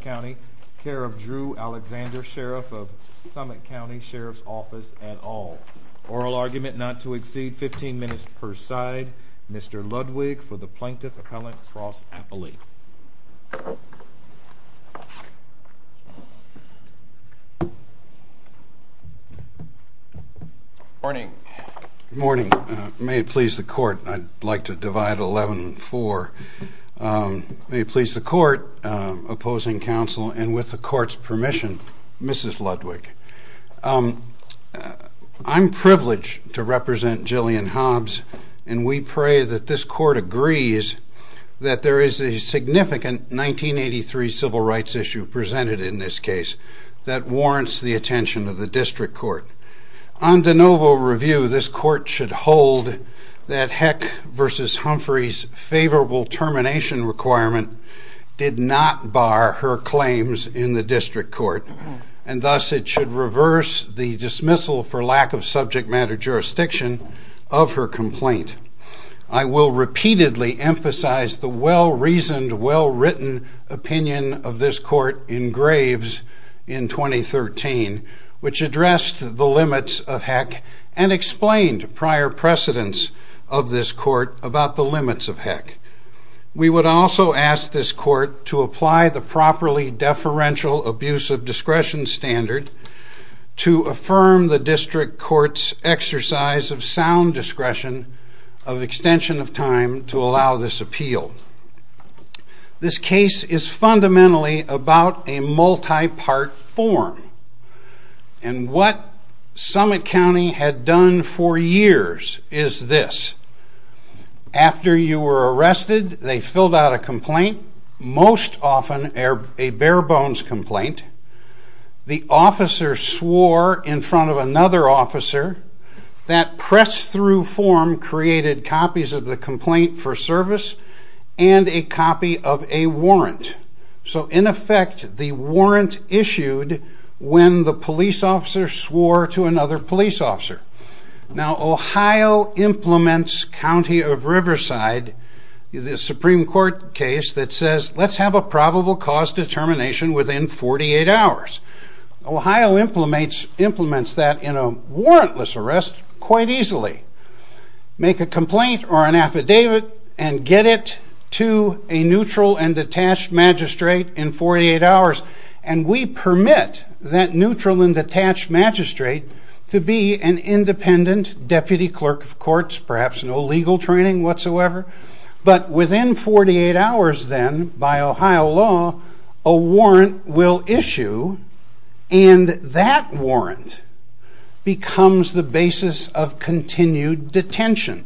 County, care of Drew Alexander, Sheriff of Summit County, Sheriff's Office, et al. Oral argument not to exceed 15 minutes per side. Mr. Ludwig, for the Plaintiff Appellant, Cross Appellate. Morning. Morning. May it please the Court, I'd like to divide 11-4. May it please the Court, opposing counsel, and with the Court's permission, Mrs. Ludwig. I'm privileged to represent Jillian Hobbs, and we pray that this Court agrees that there is a significant 1983 civil rights issue presented in this case that warrants the attention of the District Court. On de novo review, this Court should hold that Heck v. Humphrey's favorable termination requirement did not bar her claims in the District Court, and thus it should reverse the dismissal for lack of subject matter jurisdiction of her complaint. I will repeatedly emphasize the well-reasoned, well-written opinion of this Court in Graves in 2013, which addressed the limits of Heck, and explained prior precedents of this Court about the limits of Heck. We would also ask this Court to apply the properly deferential abuse of discretion standard to affirm the District Court's exercise of sound discretion of extension of time to allow this appeal. This case is fundamentally about a multi-part form. And what Summit County had done for years is this. After you were arrested, they filled out a complaint, most often a bare-bones complaint. The officer swore in front of another officer. That press-through form created copies of the complaint for service, and a copy of a warrant. So, in effect, the warrant issued when the police officer swore to another police officer. Now, Ohio implements County of Riverside, the Supreme Court case, that says, let's have a probable cause determination within 48 hours. Ohio implements that in a warrantless arrest quite easily. Make a complaint or an affidavit and get it to a neutral and detached magistrate in 48 hours. And we permit that neutral and detached magistrate to be an independent deputy clerk of courts, perhaps no legal training whatsoever. But within 48 hours, then, by Ohio law, a warrant will issue. And that warrant becomes the basis of continued detention.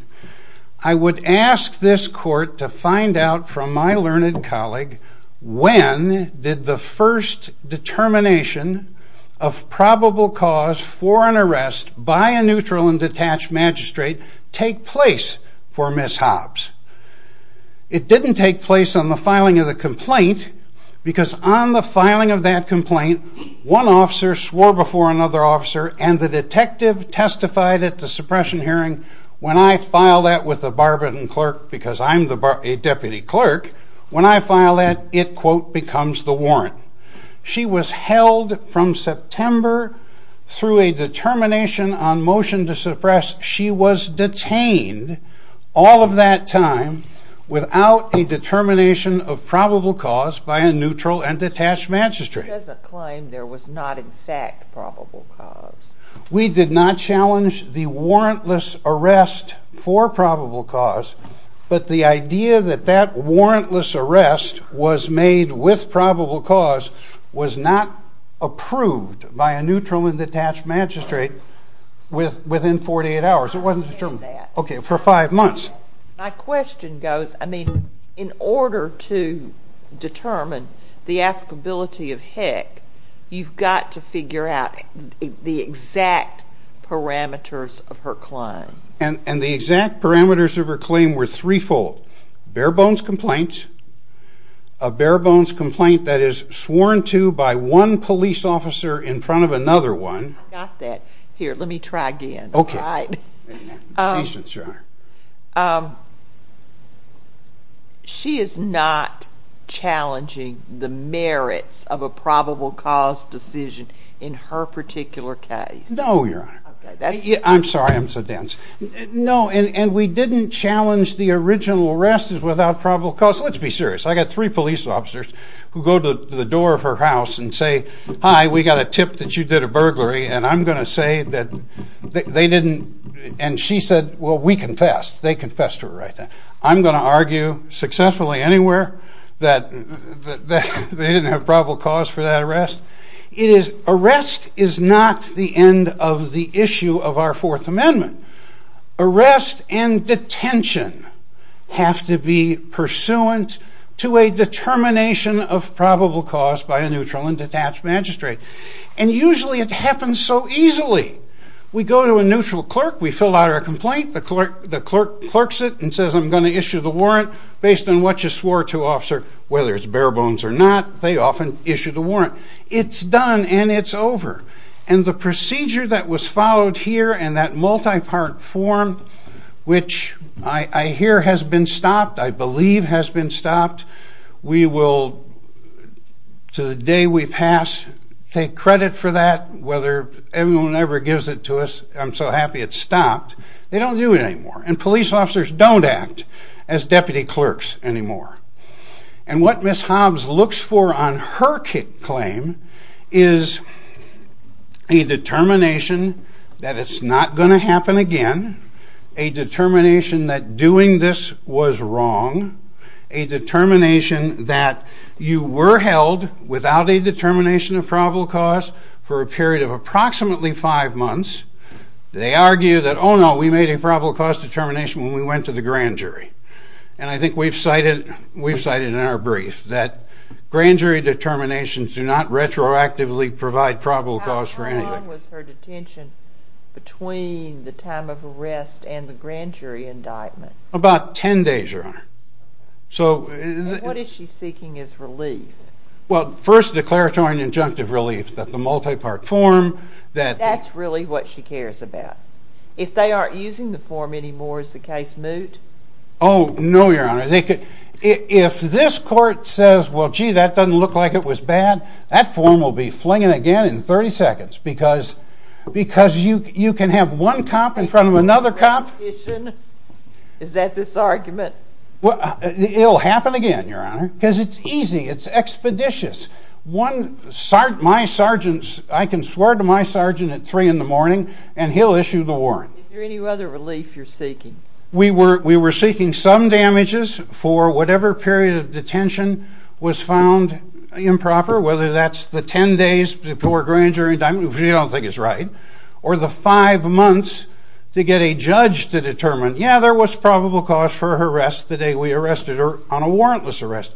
I would ask this Court to find out from my learned colleague, when did the first determination of probable cause for an arrest by a neutral and detached magistrate take place for Ms. Hobbs? It didn't take place on the filing of the complaint, because on the filing of that complaint, one officer swore before another officer, and the detective testified at the suppression hearing, when I file that with a Barbarian clerk, because I'm a deputy clerk, when I file that, it, quote, becomes the warrant. She was held from September through a determination on motion to suppress. She was detained all of that time without a determination of probable cause by a neutral and detached magistrate. As a claim, there was not, in fact, probable cause. We did not challenge the warrantless arrest for probable cause, but the idea that that warrantless arrest was made with probable cause was not approved by a neutral and detached magistrate within 48 hours. It wasn't determined for five months. My question goes, I mean, in order to determine the applicability of HEC, you've got to figure out the exact parameters of her claim. And the exact parameters of her claim were threefold. Bare bones complaint, a bare bones complaint that is sworn to by one police officer in front of another one. I got that. Here, let me try again. She is not challenging the merits of a probable cause decision in her particular case. No, Your Honor. I'm sorry, I'm so dense. No, and we didn't challenge the original arrest as without probable cause. Let's be serious. I got three police officers who go to the door of her house and say, hi, we got a tip that you did a burglary, and I'm going to say that they didn't, and she said, well, we confessed. They confessed to her right then. I'm going to argue successfully anywhere that they didn't have probable cause for that arrest. Arrest is not the end of the issue of our Fourth Amendment. Arrest and detention have to be pursuant to a determination of probable cause by a neutral and detached magistrate. And usually it happens so easily. We go to a neutral clerk, we fill out our complaint, the clerk clerks it and says, I'm going to issue the warrant based on what you swore to, officer, whether it's bare bones or not. They often issue the warrant. It's done and it's over. And the procedure that was followed here and that multi-part form, which I hear has been stopped, I believe has been stopped, we will, to the day we pass, take credit for that, whether everyone ever gives it to us, I'm so happy it's stopped, they don't do it anymore, and police officers don't act as deputy clerks anymore. And what Ms. Hobbs looks for on her claim is a determination that it's not going to happen again, a determination that doing this was wrong, a determination that you were held without a determination of probable cause, for a period of approximately five months. They argue that, oh no, we made a probable cause determination when we went to the grand jury. And I think we've cited in our brief that grand jury determinations do not retroactively provide probable cause for anything. How long was her detention between the time of arrest and the grand jury indictment? About ten days, Your Honor. And what is she seeking as relief? Well, first declaratory and injunctive relief, that the multi-part form... That's really what she cares about. If they aren't using the form anymore, is the case moot? Oh, no, Your Honor. If this court says, well, gee, that doesn't look like it was bad, that form will be flinging again in 30 seconds, because you can have one cop in front of another cop... Is that this argument? It'll happen again, Your Honor, because it's easy, it's expeditious. I can swear to my sergeant at three in the morning, and he'll issue the warrant. Is there any other relief you're seeking? We were seeking some damages for whatever period of detention was found improper, whether that's the ten days before grand jury indictment, which we don't think is right, or the five months to get a judge to determine, yeah, there was probable cause for her arrest the day we arrested her on a warrantless arrest.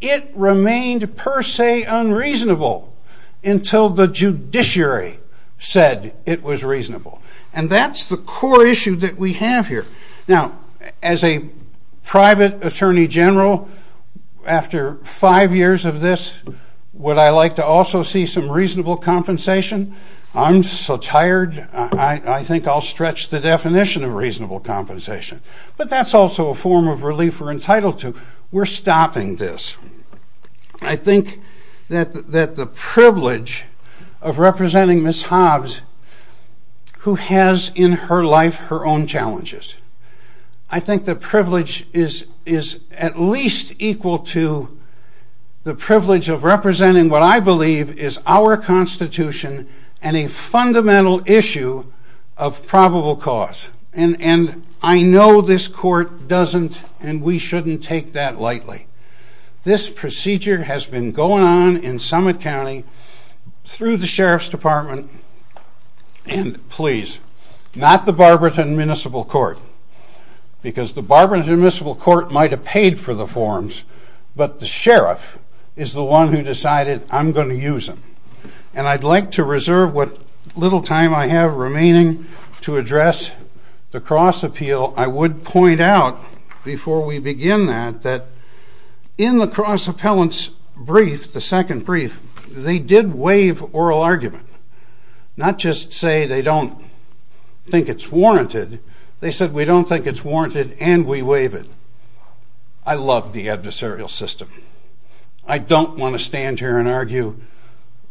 It remained per se unreasonable until the judiciary said it was reasonable. And that's the core issue that we have here. Now, as a private attorney general, after five years of this, would I like to also see some reasonable compensation? I'm so tired, I think I'll stretch the definition of reasonable compensation. But that's also a form of relief we're entitled to. We're stopping this. I think that the privilege of representing Ms. Hobbs, who has in her life her own challenges, I think the privilege is at least equal to the privilege of representing what I believe is our Constitution and a fundamental issue of probable cause. And I know this court doesn't, and we shouldn't take that lightly. This procedure has been going on in Summit County through the Sheriff's Department, and please, not the Barberton Municipal Court, because the Barberton Municipal Court might have paid for the forms, but the Sheriff is the one who decided, I'm going to use them. And I'd like to reserve what little time I have remaining to address the cross-appeal. I would point out before we begin that in the cross-appellant's brief, the second brief, they did waive oral argument, not just say they don't think it's warranted. They said, we don't think it's warranted and we waive it. I love the adversarial system. I don't want to stand here and argue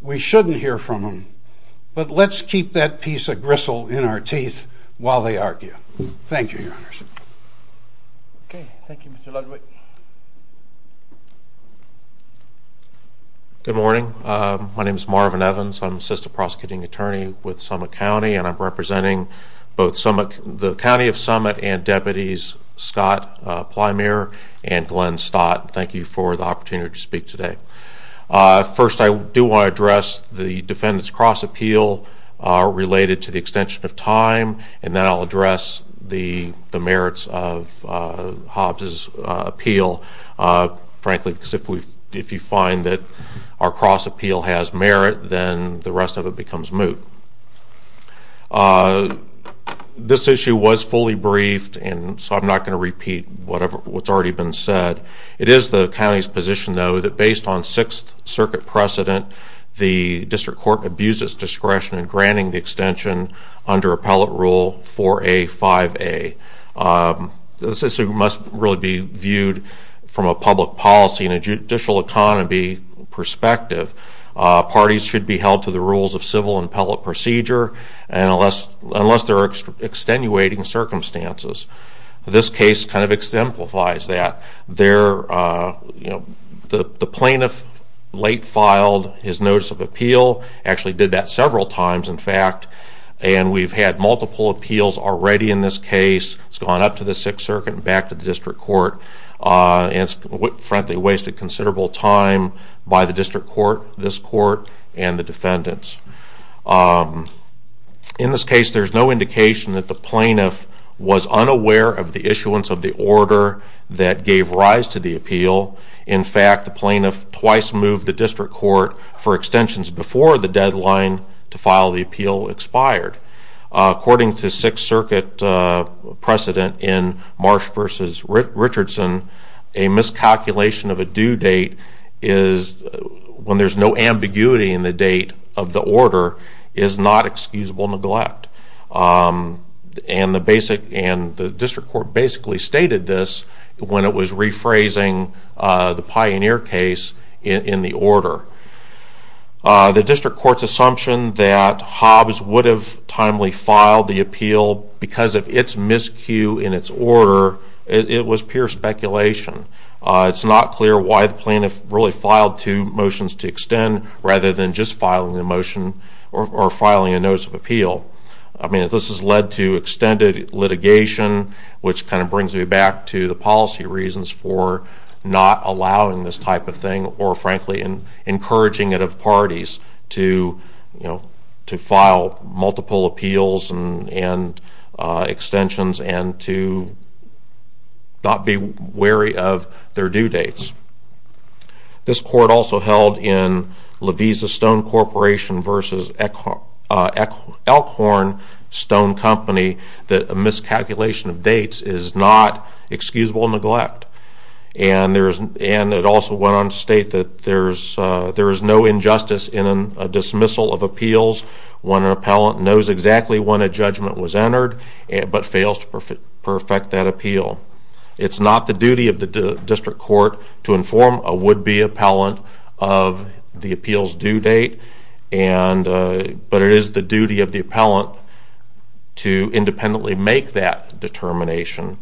we shouldn't hear from them, but let's keep that piece of gristle in our teeth while they argue. Thank you, Your Honors. Thank you, Mr. Ludwig. Good morning. My name is Marvin Evans. I'm Assistant Prosecuting Attorney with Summit County, and I'm representing both the County of Summit and Deputies Scott Plymere and Glenn Stott. Thank you for the opportunity to speak today. First, I do want to address the defendant's cross-appeal related to the extension of time, and then I'll address the merits of Hobbs' appeal, frankly, because if you find that our cross-appeal has merit, then the rest of it becomes moot. This issue was fully briefed, and so I'm not going to repeat what's already been said. It is the County's position, though, that based on 6th Circuit precedent, the District Court abuses discretion in granting the extension under appellate rule 4A-5A. This issue must really be viewed from a public policy and a judicial economy perspective. Parties should be held to the rules of civil appellate procedure unless they're extenuating circumstances. This case kind of exemplifies that. The plaintiff late filed his notice of appeal, actually did that several times, in fact, and we've had multiple appeals already in this case. It's gone up to the 6th Circuit and back to the District Court, and it's frankly wasted considerable time by the District Court, this Court, and the defendants. In this case, there's no indication that the plaintiff was unaware of the issuance of the order that gave rise to the appeal. In fact, the plaintiff twice moved the District Court for extensions before the deadline to file the appeal expired. According to 6th Circuit precedent in Marsh v. Richardson, a miscalculation of a due date is, when there's no ambiguity in the date of the order, is not excusable neglect. And the District Court basically stated this when it was rephrasing the Pioneer case in the order. The District Court's assumption that Hobbs would have timely filed the appeal because of its miscue in its order, it was pure speculation. It's not clear why the plaintiff really filed two motions to extend rather than just filing the motion or filing a notice of appeal. I mean, this has led to extended litigation, which kind of brings me back to the policy reasons for not allowing this type of thing or, frankly, encouraging it of parties to file multiple appeals and extensions and to not be wary of their due dates. This Court also held in March v. Richardson that a miscalculation of dates is not excusable neglect. And it also went on to state that there is no injustice in a dismissal of appeals when an appellant knows exactly when a judgment was entered but fails to perfect that appeal. It's not the duty of the District Court to inform a would-be appellant of the appeal's due date, but it is the duty of the appellant to independently make that determination.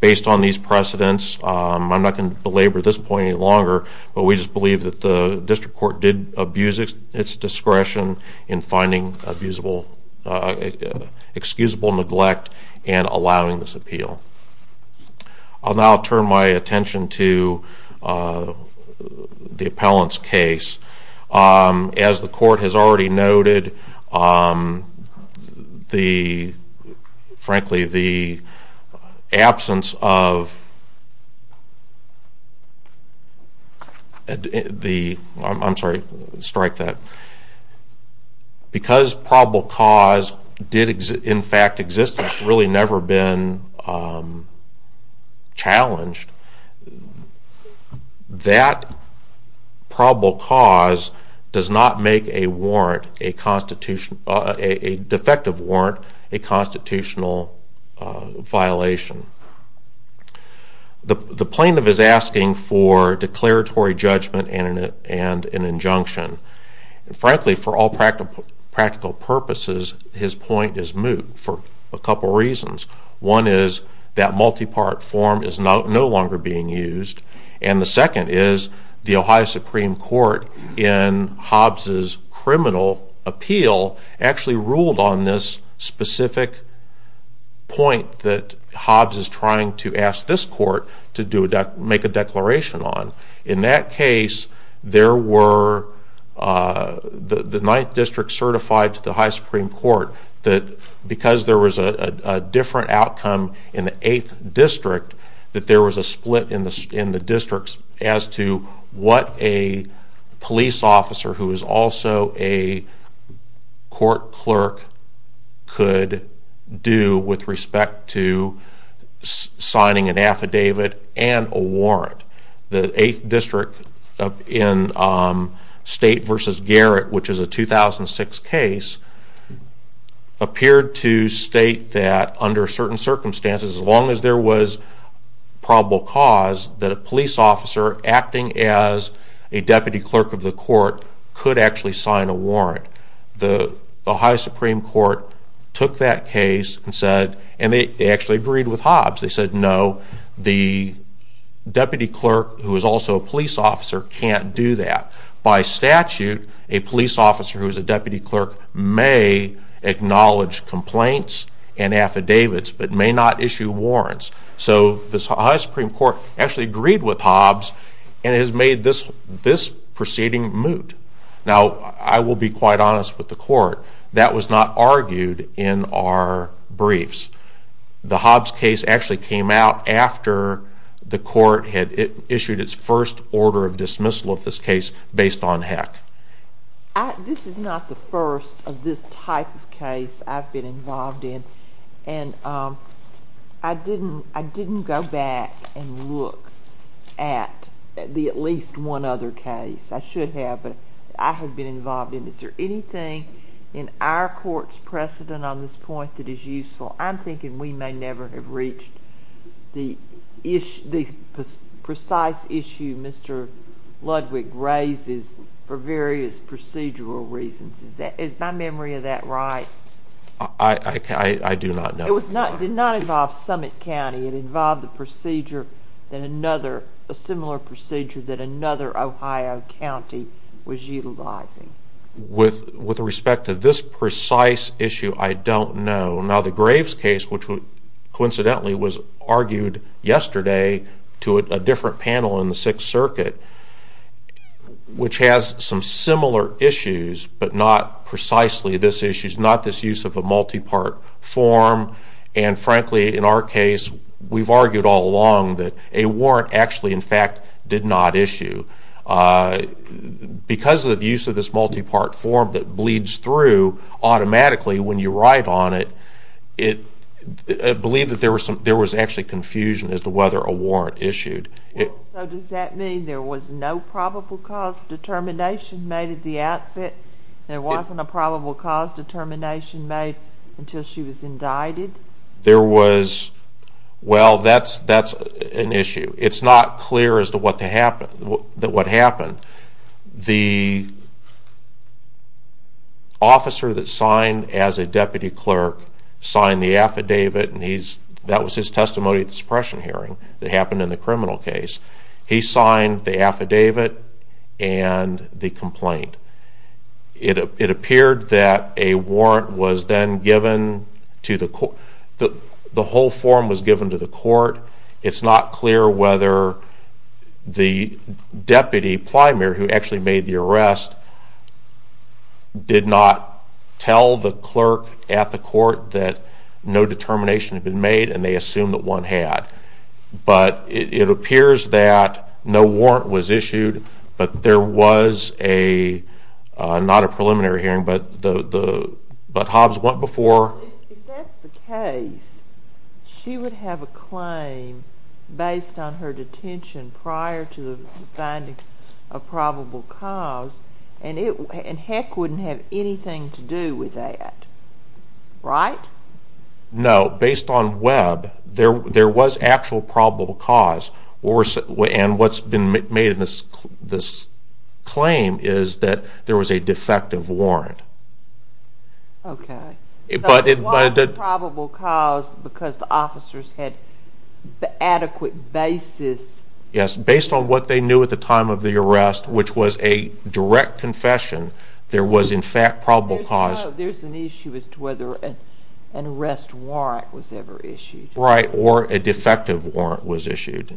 Based on these precedents, I'm not going to belabor this point any longer, but we just believe that the District Court did abuse its discretion in finding excusable neglect and allowing this appeal. I'll now turn my attention to the appellant's case. As the Court has already noted, the, frankly, the absence of the, I'm sorry, strike that. Because probable cause did in fact exist, it's really never been challenged. That probable cause does not make a warrant, a constitutional, a defective warrant, a constitutional violation. The plaintiff is asking for declaratory judgment and an injunction. And frankly, for all practical purposes, his point is moot for a couple reasons. One is that multi-part form is no longer being used. And the second is the Ohio Supreme Court in Hobbs' criminal appeal actually ruled on this specific point that Hobbs is trying to ask this court to make a declaration on. In that case, there was a split in the districts as to what a police officer who is also a court clerk could do with respect to signing an affidavit and a warrant. The 8th District in State v. Garrett, which is a 2006 case, appeared to state that under certain circumstances, as long as there was probable cause, that a police officer acting as a deputy clerk of the court could actually sign a warrant. The Ohio Supreme Court took that case and said, and they actually agreed with Hobbs, they said no, the deputy clerk who is also a police officer can't do that. By statute, a police officer who is a deputy clerk may acknowledge complaints and affidavits, but may not issue warrants. So the Ohio Supreme Court actually agreed with Hobbs and has made this proceeding moot. Now, I will be quite honest with the court, that was not argued in our briefs. The Hobbs case actually came out after the court had issued its first order of dismissal of this case based on Heck. This is not the first of this type of case I've been involved in, and I didn't go back and look at at least one other case. I should have, but I have been involved in it. Is there anything in our court's precedent on this point that is useful? I'm thinking we may never have reached the precise issue Mr. Ludwig raises for various procedural reasons. Is my memory of that right? I do not know. It did not involve Summit County. It involved a procedure that another, a similar procedure that another Ohio county was involved in. I don't know. Now the Graves case, which coincidentally was argued yesterday to a different panel in the Sixth Circuit, which has some similar issues, but not precisely this issue. It's not this use of a multi-part form, and frankly in our case we've argued all along that a warrant actually in fact did not issue. Because of the use of this multi-part form that bleeds through automatically when you write on it, I believe that there was actually confusion as to whether a warrant issued. So does that mean there was no probable cause determination made at the outset? There wasn't a probable cause determination made until she was indicted? There was, well that's an issue. It's not clear as to what happened. The officer that signed as a deputy clerk signed the affidavit and that was his testimony at the suppression hearing that happened in the criminal case. He signed the affidavit and the complaint. It appeared that a warrant was then given to the court. The whole form was given to the court. It's not clear whether the deputy, Plymer, who actually made the arrest, did not tell the clerk at the court that no determination had been made and they assumed that one had. But it appears that no warrant was issued. But Hobbs went before. If that's the case, she would have a claim based on her detention prior to finding a probable cause and heck wouldn't have anything to do with that, right? No, based on Webb there was actual probable cause and what's been made in this claim is that there was a defective warrant. Okay. So it was a probable cause because the officers had adequate basis. Yes, based on what they knew at the time of the arrest, which was a direct confession, there was in fact probable cause. There's an issue as to whether an arrest warrant was ever issued. Right, or a defective warrant was issued.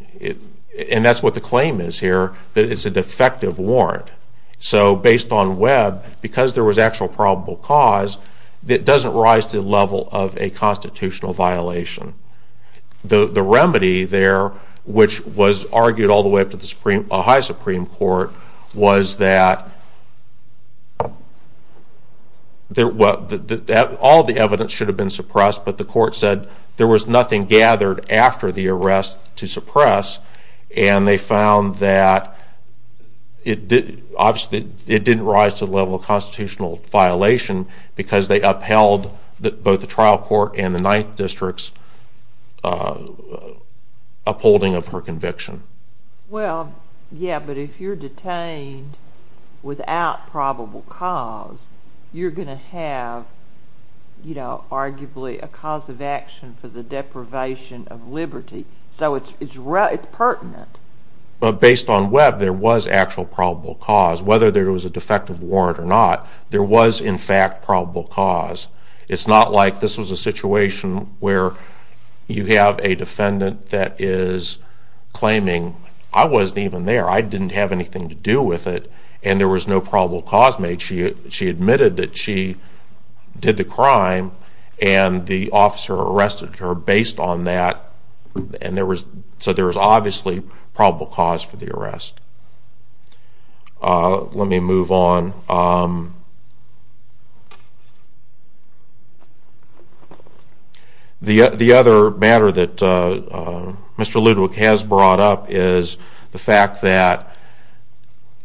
And that's what the claim is here, that it's a defective warrant. So based on Webb, because there was actual probable cause, it doesn't rise to the level of a constitutional violation. The remedy there, which was argued all the way up to the Supreme, a high Supreme Court, was that all the evidence should have been suppressed, but the court said there was nothing gathered after the arrest to suppress and they found that it didn't rise to the level of constitutional violation because they upheld both the trial court and the 9th District's upholding of her conviction. Well, yeah, but if you're detained without probable cause, you're going to have, you know, arguably a cause of action for the deprivation of liberty. So it's pertinent. But based on Webb, there was actual probable cause. Whether there was a defective warrant or not, there was in fact probable cause. It's not like this was a situation where you have a defendant that is claiming, I wasn't even there, I didn't have anything to do with it, and there was no probable cause made. She admitted that she did the crime and the officer arrested her based on that. So there was obviously probable cause for the arrest. Let me move on. The other matter that Mr. Ludewick has brought up is the fact that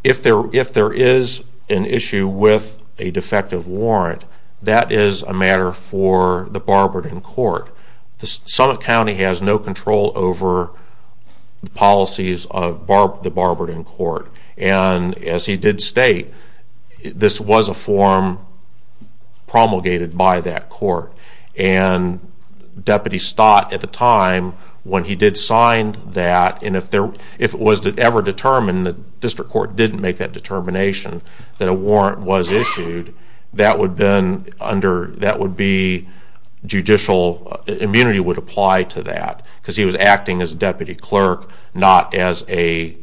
if there is an issue with a defective warrant, that is a matter for the Barberton Court. Summit County has no control over the policies of the Barberton Court. And as he did state, this was a form promulgated by that court. And Deputy Stott, at the time, when he did sign that, and if it was ever determined, the district court didn't make that determination, that a warrant was issued, that would be judicial immunity would apply to that. Because he was acting as a deputy clerk, not as a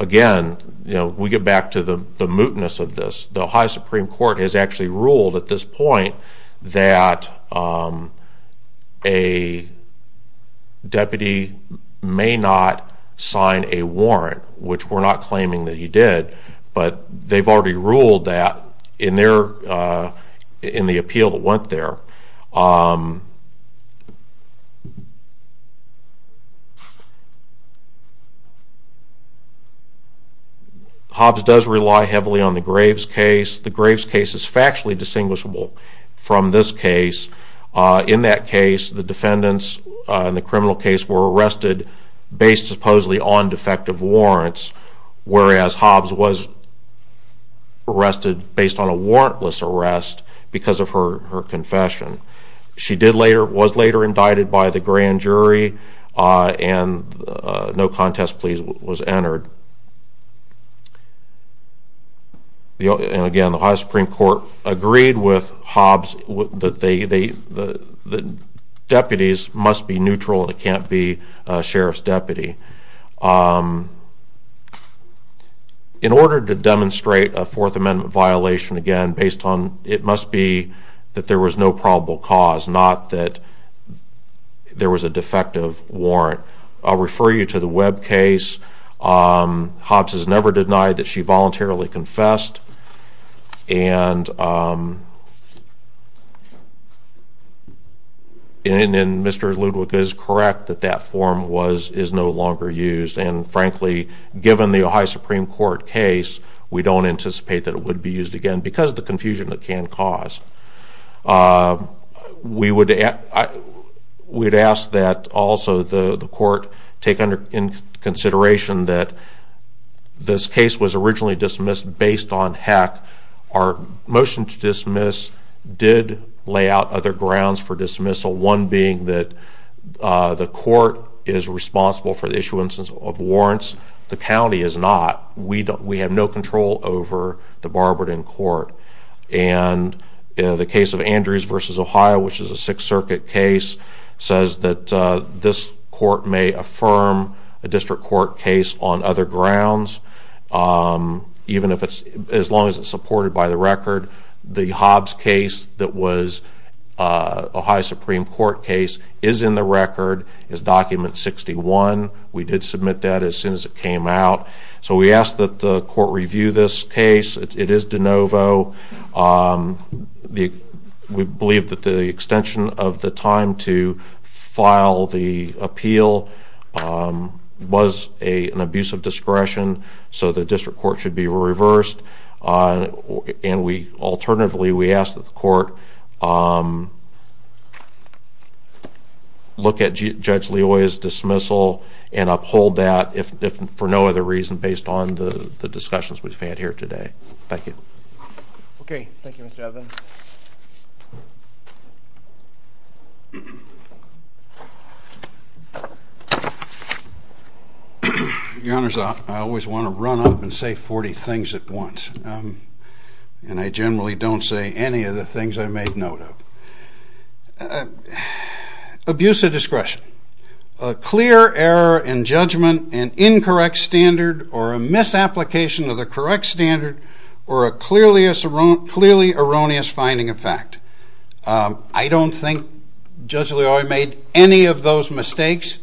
Again, we get back to the mootness of this. The Ohio Supreme Court has actually ruled at this point that a deputy may not sign a warrant, which we're not claiming that he did, but they've already ruled that in the appeal that went there. Hobbs does rely heavily on the Graves case. The Graves case is factually distinguishable from this case. In that case, the defendants in the criminal case were arrested based supposedly on defective warrants, whereas Hobbs was arrested based on a warrantless arrest because of her confession. She was later indicted by the grand jury and no contest please was entered. And again, the Ohio Supreme Court agreed with Hobbs that deputies must be neutral and it can't be a sheriff's deputy. In order to demonstrate a Fourth Amendment violation, it must be that there was no probable cause, not that there was a defective warrant. I'll refer you to the Webb case. Hobbs has never denied that she voluntarily confessed. And Mr. Ludwig is correct that that form is no longer used. And frankly, given the Ohio Supreme Court case, we don't anticipate that it would be used again because of the confusion it can cause. We'd ask that also the court take into consideration that this case was originally dismissed based on heck. Our motion to dismiss did lay out other grounds for dismissal. One being that the court is responsible for the issuance of warrants. The county is not. We have no control over the Barberton court. And the case of Andrews v. Ohio, which is a Sixth Circuit case, says that this court may affirm a district court case on other grounds, even if it's, as long as it's supported by the record. The Hobbs case that was Ohio Supreme Court case is in the record, is document 61. We did submit that as soon as it came out. So we ask that the court review this case. It is de novo. We believe that the extension of the time to file the appeal was an abuse of time. Alternatively, we ask that the court look at Judge Leoia's dismissal and uphold that, for no other reason, based on the discussions we've had here today. Thank you. Okay. Thank you, Mr. Evans. Your Honor, I always want to run up and say 40 things at once. And I generally don't say any of the things I made note of. Abuse of discretion. A clear error in judgment, an incorrect standard, or a misapplication of the correct standard, or a clearly erroneous finding of fact. I don't think Judge Leoia made any of those mistakes.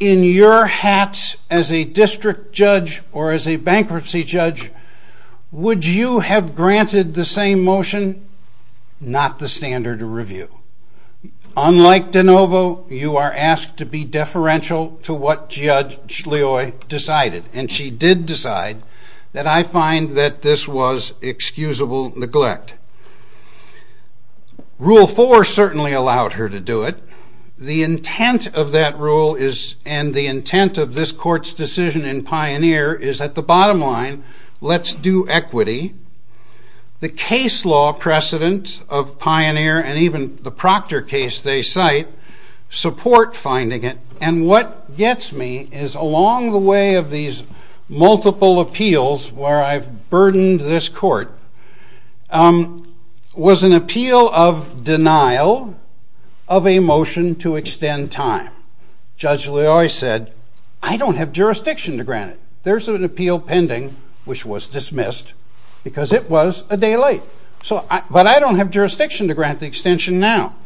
In your hats as a district judge or as a bankruptcy judge, would you have granted the same motion? Not the standard of review. Unlike de novo, you are asked to be deferential to what Judge Leoia decided. And she did decide that I find that this was excusable neglect. Rule 4 certainly allowed her to do it. The intent of that rule and the intent of this Court's decision in Pioneer is, at the bottom line, let's do equity. The case law precedent of Pioneer and even the case law precedent of Pioneer is, along the way of these multiple appeals where I've burdened this Court, was an appeal of denial of a motion to extend time. Judge Leoia said, I don't have jurisdiction to grant it. There's an appeal pending, which was dismissed, because it was a day late. But I don't have jurisdiction to grant the extension now.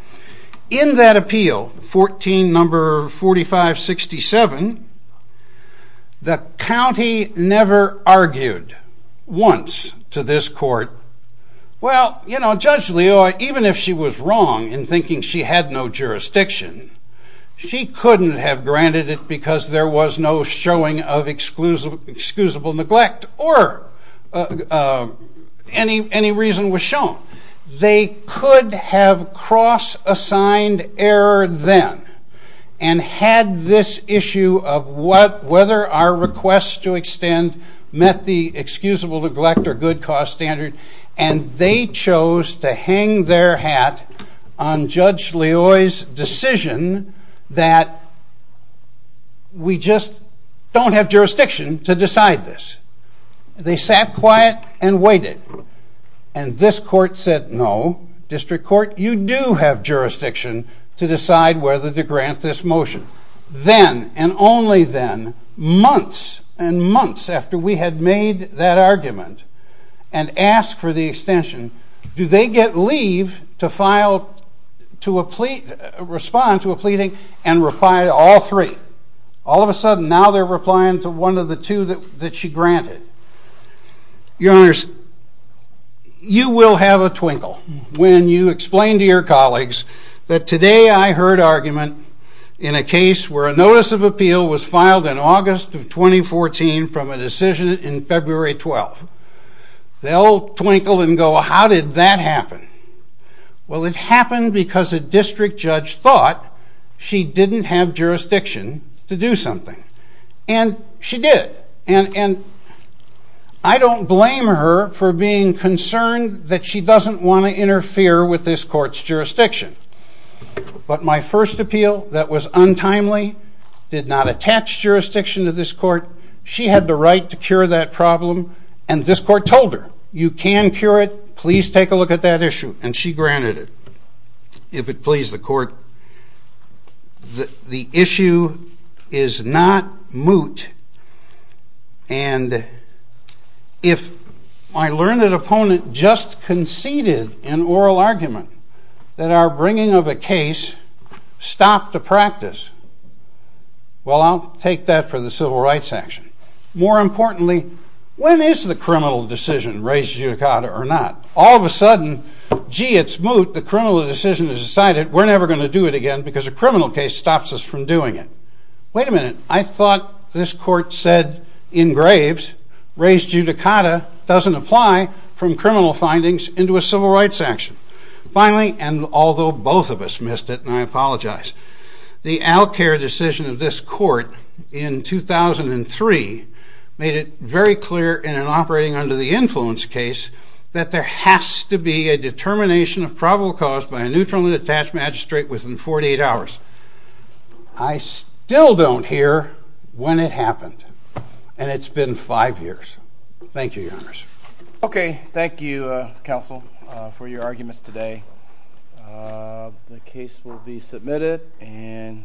In that appeal, 14 number 4567, the county never argued once to this Court, well, you know, Judge Leoia, even if she was wrong in thinking she had no jurisdiction, she couldn't have granted it because there was no showing of excusable neglect or any reason was shown. They could have cross-assigned error then and had this issue of whether our request to extend met the excusable neglect or good cause standard. And they chose to hang their hat on Judge Leoia's decision that we just don't have jurisdiction to decide this. They sat quiet and waited. And this Court said, no, District Court, you do have jurisdiction to decide whether to grant this motion. Then, and only then, months and months after we had made that argument and asked for the extension, do they get leave to respond to a pleading and reply to all three? All of a sudden, now they're replying to one of the two that she granted. Your Honors, you will have a twinkle when you explain to your colleagues that today I heard argument in a case where a notice of appeal was filed in August of 2014 from a decision in February 12. They'll twinkle and go, how did that happen? Well, it happened because a district judge thought she didn't have jurisdiction to do something. And she did. And I don't blame her for being concerned that she doesn't want to interfere with this Court's jurisdiction. But my first appeal that was untimely did not attach jurisdiction to this Court. She had the right to cure that problem. And this Court told her, you can cure it. Please take a look at that issue. And she granted it. If it please the Court, the issue is not moot. And if my learned opponent just conceded an oral argument that our bringing of a case stopped a practice, well, I'll take that for the civil rights action. More importantly, when is the criminal decision, res judicata or not? All of a sudden, gee, it's moot. The criminal decision is decided. We're never going to do it again because a criminal case stops us from doing it. Wait a minute. I thought this Court said in graves, res judicata doesn't apply from criminal findings into a civil rights action. Finally, and although both of us missed it, and I apologize, the outcare decision of this Court in 2003 made it very clear in an operating under the influence case that there has to be a determination of probable cause by a neutrally attached magistrate within 48 hours. I still don't hear when it happened. And it's been five years. Thank you, Your Honor. Okay. Thank you, Counsel, for your arguments today. The case will be submitted and